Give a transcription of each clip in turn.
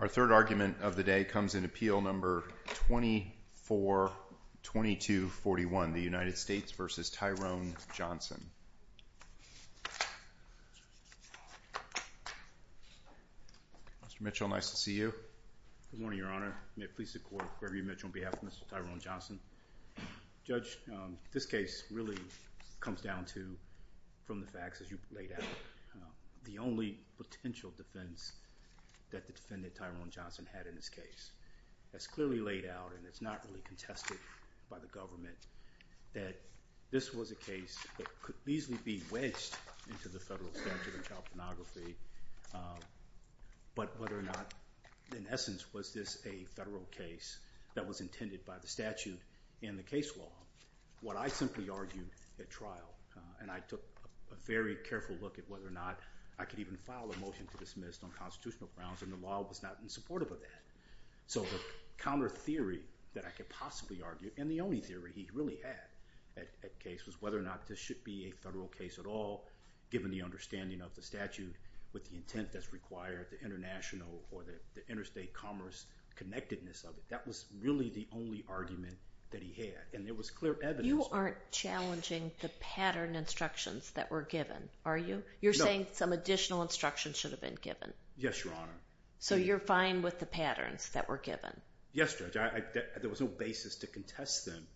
Mr. Mitchell, nice to see you. Good morning, Your Honor. May it please the Court, Gregory Mitchell on behalf of Mr. Tyrone Johnson. Judge, this case really comes down to, from the facts as you laid out, the only potential defense that the defendant, Tyrone Johnson, had in this case. That's clearly laid out and it's not really contested by the government that this was a case that could easily be wedged into the federal statute of child pornography, but whether or not, in essence, was this a federal case that was intended by the statute in the case law. What I simply argued at trial, and I took a very careful look at whether or not I could even file a motion to dismiss on constitutional grounds, and the law was not in support of that. So the counter theory that I could possibly argue, and the only theory he really had at case, was whether or not this should be a federal case at all, given the understanding of the statute with the intent that's required, the international, or the interstate commerce connectedness of it. That was really the only argument that he had, and there was clear evidence. You aren't challenging the pattern instructions that were given, are you? No. You're saying some additional instructions should have been given? Yes, Your Honor. So you're fine with the patterns that were given? Yes, Judge. There was no basis to contest them,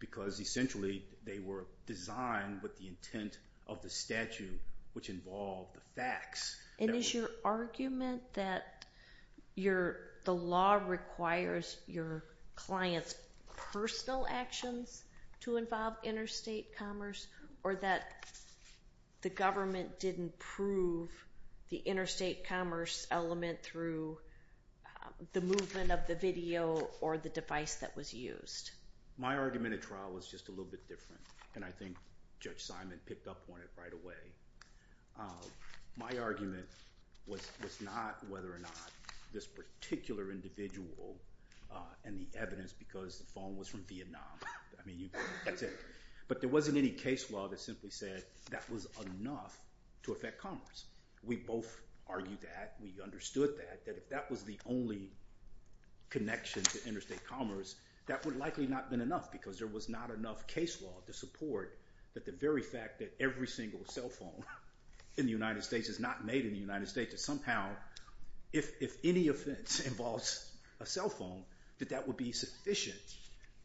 because essentially they were designed with the intent of the statute, which involved the facts. And is your argument that the law requires your client's personal actions to involve interstate commerce, or that the government didn't prove the interstate commerce element through the movement of the video or the device that was used? My argument at trial was just a little bit different, and I think Judge Simon picked up on it right away. My argument was not whether or not this particular individual and the evidence, because the phone was from Vietnam. I mean, that's it. But there wasn't any case law that simply said that was enough to affect commerce. We both argued that, we understood that, that if that was the only connection to interstate commerce, that would likely not have been enough, because there was not enough case law to support the very fact that every single cell phone in the United States is not made in the United States. Somehow, if any offense involves a cell phone, that that would be sufficient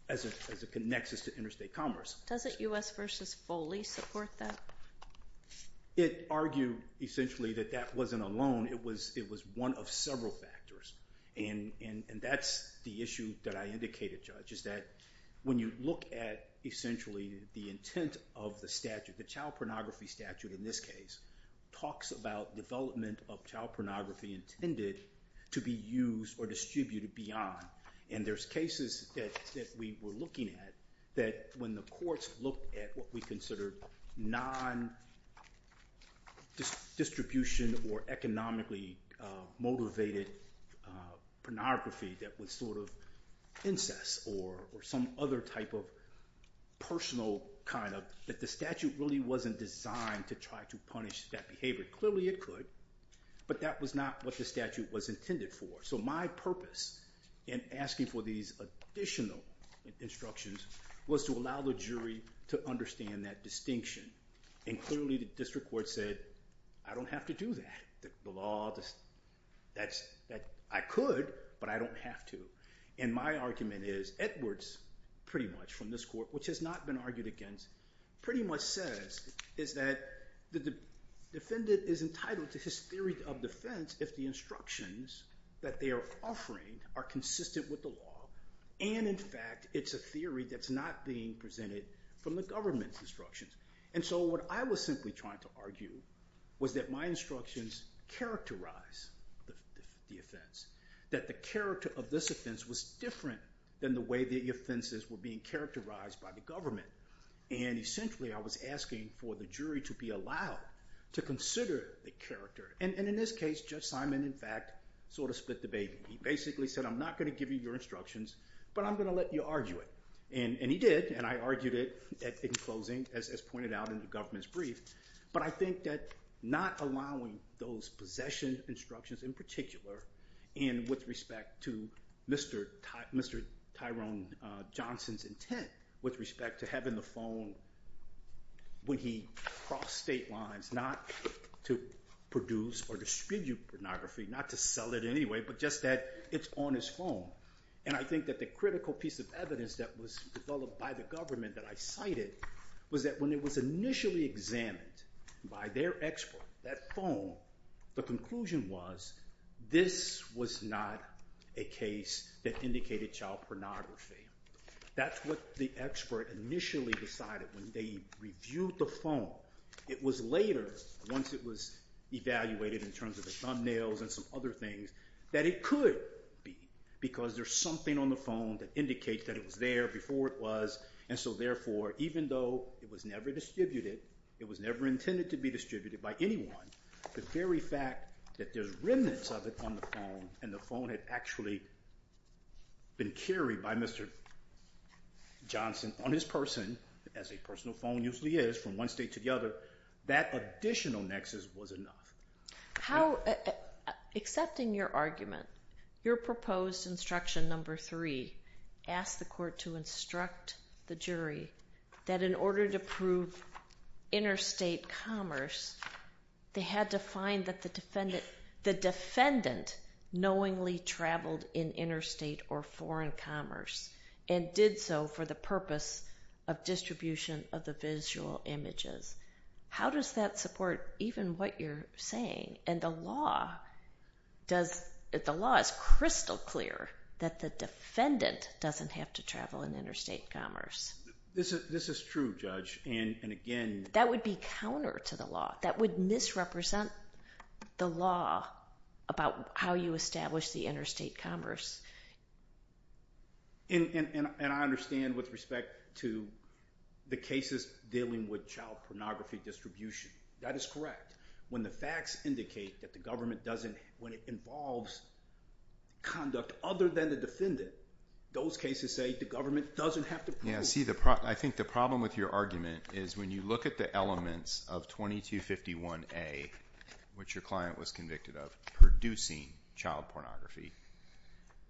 as a nexus to interstate commerce. Does it U.S. v. Foley support that? It argued, essentially, that that wasn't alone. It was one of several factors, and that's the issue that I indicated, Judge, is that when you look at, essentially, the intent of the statute, the child pornography statute in this case, talks about development of child pornography intended to be used or distributed beyond, and there's cases that we were looking at that when the courts looked at what we considered non-distribution or economically motivated pornography that was sort of incest or some other type of personal kind of, that the statute really wasn't designed to try to punish that behavior. Clearly it could, but that was not what the statute was intended for. So my purpose in asking for these additional instructions was to allow the jury to understand that distinction, and clearly the district court said, I don't have to do that. The law, that's, I could, but I don't have to. And my argument is, Edwards, pretty much, from this court, which has not been argued against, pretty much says, is that the defendant is entitled to his theory of defense if the instructions that they are offering are consistent with the law, and in fact, it's a theory that's not being presented from the government's instructions. And so what I was simply trying to argue was that my instructions characterize the offense, that the character of this offense was different than the way the offenses were being characterized by the government, and essentially I was asking for the jury to be allowed to consider the character, and in this case, Judge Simon, in fact, sort of split the baby. He basically said, I'm not going to give you your instructions, but I'm going to let you argue it. And he did, and I argued it in closing, as pointed out in the government's brief, but I think that not allowing those possession instructions in particular, and with respect to Mr. Tyrone Johnson's intent with respect to having the phone when he crossed state lines, not to produce or distribute pornography, not to sell it anyway, but just that it's on his phone. And I think that the critical piece of evidence that was developed by the government that I cited was that when it was initially examined by their expert, that phone, the conclusion was, this was not a case that indicated child pornography. That's what the expert initially decided when they reviewed the phone. It was later, once it was evaluated in terms of the thumbnails and some other things, that it could be, because there's something on the phone that indicates that it was there before it was, and so therefore, even though it was never distributed, it was never intended to be distributed by anyone, the very fact that there's remnants of it on the phone, and the phone had actually been carried by Mr. Johnson on his person, as a personal phone usually is, from one state to the other, that additional nexus was enough. Accepting your argument, your proposed instruction number three asked the court to instruct the jury that in order to prove interstate commerce, they had to find that the defendant knowingly traveled in interstate or foreign commerce, and did so for the purpose of distribution of the visual images. How does that support even what you're saying? The law is crystal clear that the defendant doesn't have to travel in interstate commerce. This is true, Judge, and again... That would be counter to the law. That would misrepresent the law about how you establish the interstate commerce. I understand with respect to the cases dealing with child pornography distribution. That is correct. When the facts indicate that the government doesn't, when it involves conduct other than the defendant, those cases say the government doesn't have to prove it. I think the problem with your argument is when you look at the elements of 2251A, which your client was convicted of producing child pornography,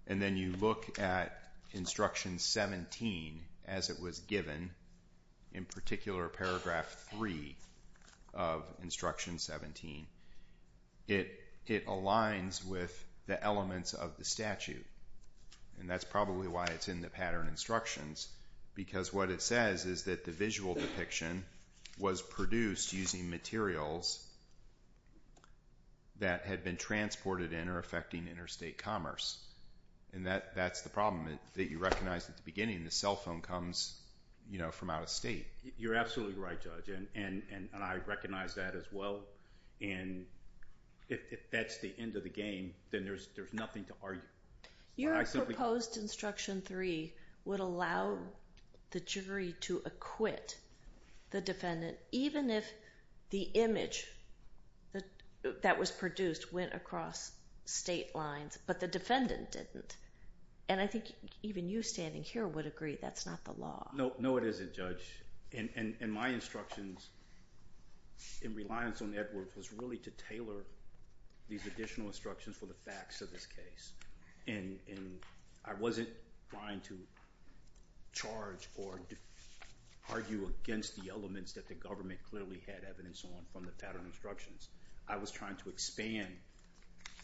and then you look at Instruction 17 as it was given, in particular Paragraph 3 of Instruction 17, it aligns with the elements of the statute. That's probably why it's in the pattern instructions, because what it says is that it was a child that had been transported in or affecting interstate commerce. That's the problem that you recognized at the beginning. The cell phone comes from out of state. You're absolutely right, Judge, and I recognize that as well. If that's the end of the game, then there's nothing to argue. Your proposed Instruction 3 would allow the jury to acquit the defendant, even if the image that was produced went across state lines, but the defendant didn't. I think even you standing here would agree that's not the law. No, it isn't, Judge. My instructions in reliance on Edwards was really to tailor these additional instructions for the facts of this case. I wasn't trying to charge or argue against the defendant from the pattern instructions. I was trying to expand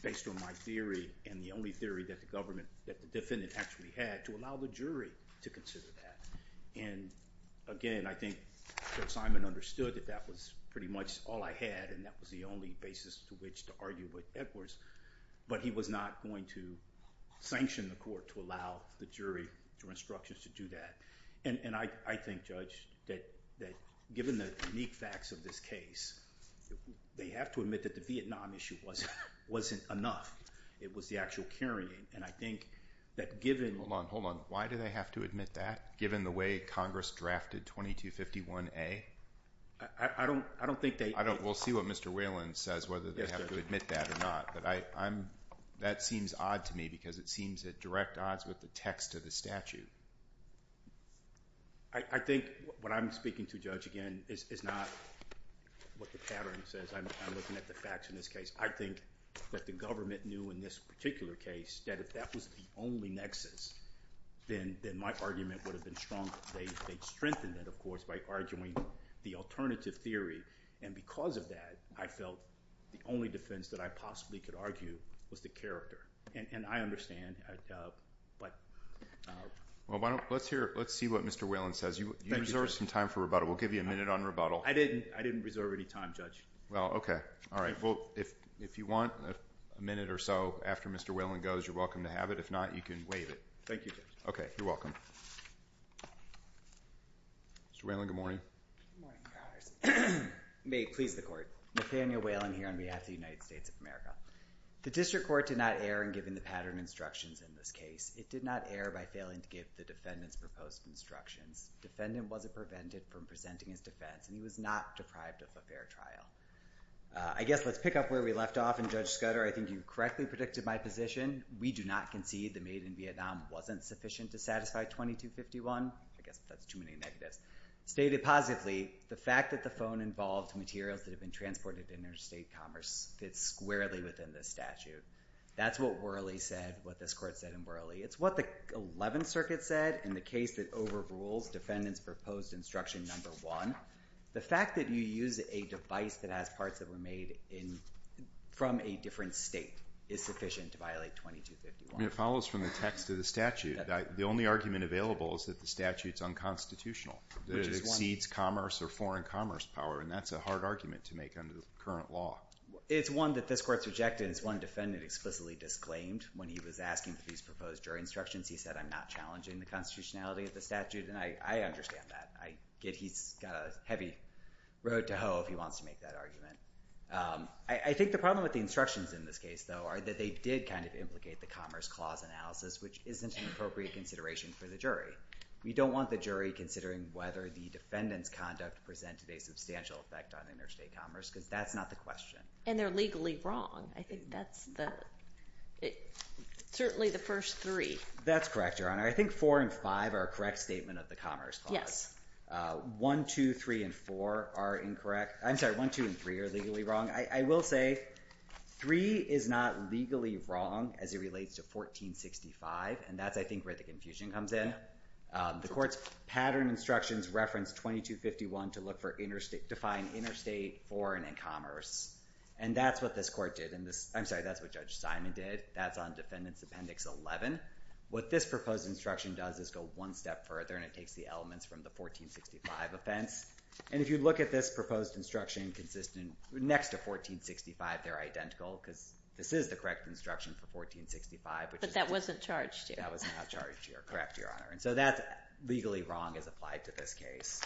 based on my theory and the only theory that the defendant actually had to allow the jury to consider that. Again, I think Judge Simon understood that that was pretty much all I had and that was the only basis to which to argue with Edwards, but he was not going to sanction the court to allow the jury or instructions to do that. I think, Judge, that given the unique facts of this case, they have to admit that the Vietnam issue wasn't enough. It was the actual carrying. I think that given... Hold on. Why do they have to admit that, given the way Congress drafted 2251A? We'll see what Mr. Whelan says, whether they have to admit that or not, but that seems odd to me because it seems at direct odds with the text of the statute. I think what I'm speaking to, Judge, again, is not what the pattern says. I'm looking at the facts in this case. I think that the government knew in this particular case that if that was the only nexus, then my argument would have been strong. They'd strengthened it, of course, by arguing the alternative theory, and because of that, I felt the only defense that I possibly could argue was the character, and I understand, but... Let's see what Mr. Whelan says. You reserved some time for rebuttal. We'll give you a minute on rebuttal. I didn't. I didn't reserve any time, Judge. Well, okay. All right. Well, if you want a minute or so after Mr. Whelan goes, you're welcome to have it. If not, you can waive it. Thank you, Judge. Okay. You're welcome. Mr. Whelan, good morning. Good morning. May it please the Court. Nathaniel Whelan here on behalf of the United States of America. The District Court did not err in giving the pattern instructions in this case. It did not err by failing to give the defendant's proposed instructions. The defendant wasn't prevented from presenting his defense, and he was not deprived of a fair trial. I guess let's pick up where we left off, and, Judge Scudder, I think you correctly predicted my position. We do not concede the maid in Vietnam wasn't sufficient to satisfy 2251. I guess that's too many negatives. Stated positively, the fact that the phone involved materials that have been transported in interstate commerce fits squarely within this statute. That's what Worley said, what this Court said in Worley. It's what the 11th Circuit said in the case that overrules defendant's proposed instruction number one. The fact that you use a device that has parts that were made from a different state is sufficient to violate 2251. It follows from the text of the statute. The only argument available is that the statute is unconstitutional, that it exceeds commerce or foreign commerce power, and that's a hard argument to make under the current law. It's one that this Court's rejected. It's one defendant explicitly disclaimed when he was asking for these proposed jury instructions. He said, I'm not challenging the constitutionality of the statute, and I understand that. He's got a heavy road to hoe if he wants to make that argument. I think the problem with the instructions in this case, though, are that they did kind of implicate the Commerce Clause analysis, which isn't an appropriate consideration for the jury. We don't want the jury considering whether the defendant's conduct presented a substantial effect on interstate commerce, because that's not the question. And they're legally wrong. I think that's certainly the first three. That's correct, Your Honor. I think four and five are a correct statement of the Commerce Clause. One, two, three, and four are incorrect. I'm sorry, one, two, and three are legally wrong. I will say three is not legally wrong as it relates to 1465, and that's, I think, where the confusion comes in. The Court's pattern instructions reference 2251 to look for defined interstate, foreign, and commerce. And that's what this Court did. I'm sorry, that's what Judge Simon did. That's on Defendant's Appendix 11. What this proposed instruction does is go one step further, and it takes the elements from the 1465 offense. And if you look at this proposed instruction next to 1465, they're identical, because this is the correct instruction for 1465. But that wasn't charged here. That was not charged here. Correct, Your Honor. And so that's legally wrong as applied to this case.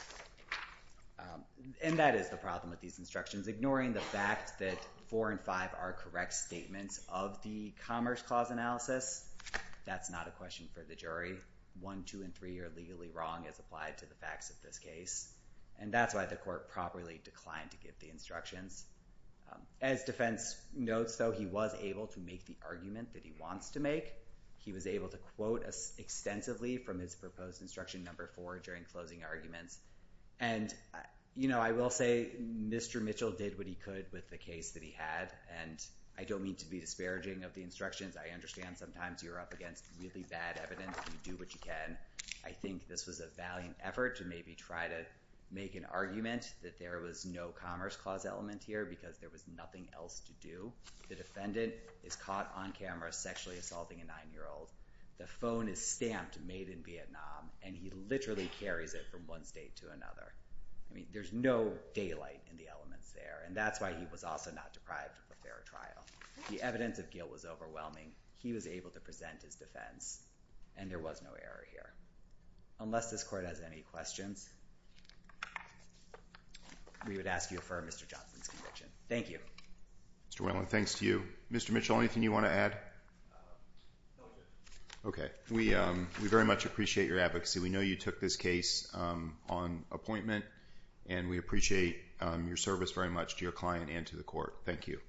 And that is the problem with these instructions. Ignoring the fact that four and five are correct statements of the Commerce Clause analysis, that's not a question for the jury. One, two, and three are legally wrong as applied to the facts of this case. And that's why the Court properly declined to give the instructions. As defense notes, though, he was able to make the argument that he wants to make. He was able to quote extensively from his proposed instruction number four during closing arguments. And I will say Mr. Mitchell did what he could with the case that he had. And I don't mean to be disparaging of the instructions. I understand sometimes you're up against really bad evidence. You do what you can. I think this was a valiant effort to maybe try to make an argument that there was no Commerce Clause element here because there was nothing else to do. The defendant is caught on camera sexually assaulting a nine-year-old. The phone is stamped Made in Vietnam. And he literally carries it from one state to another. I mean, there's no daylight in the elements there. And that's why he was also not deprived of a fair trial. The evidence of guilt was overwhelming. He was able to present his defense. And there was no error here. Unless this Court has any questions, we would ask you to affirm Mr. Johnson's conviction. Thank you. Mr. Whalen, thanks to you. Mr. Mitchell, anything you want to add? Okay. We very much appreciate your advocacy. We know you took this case on appointment. And we appreciate your service very much to your client and to the Court. Thank you.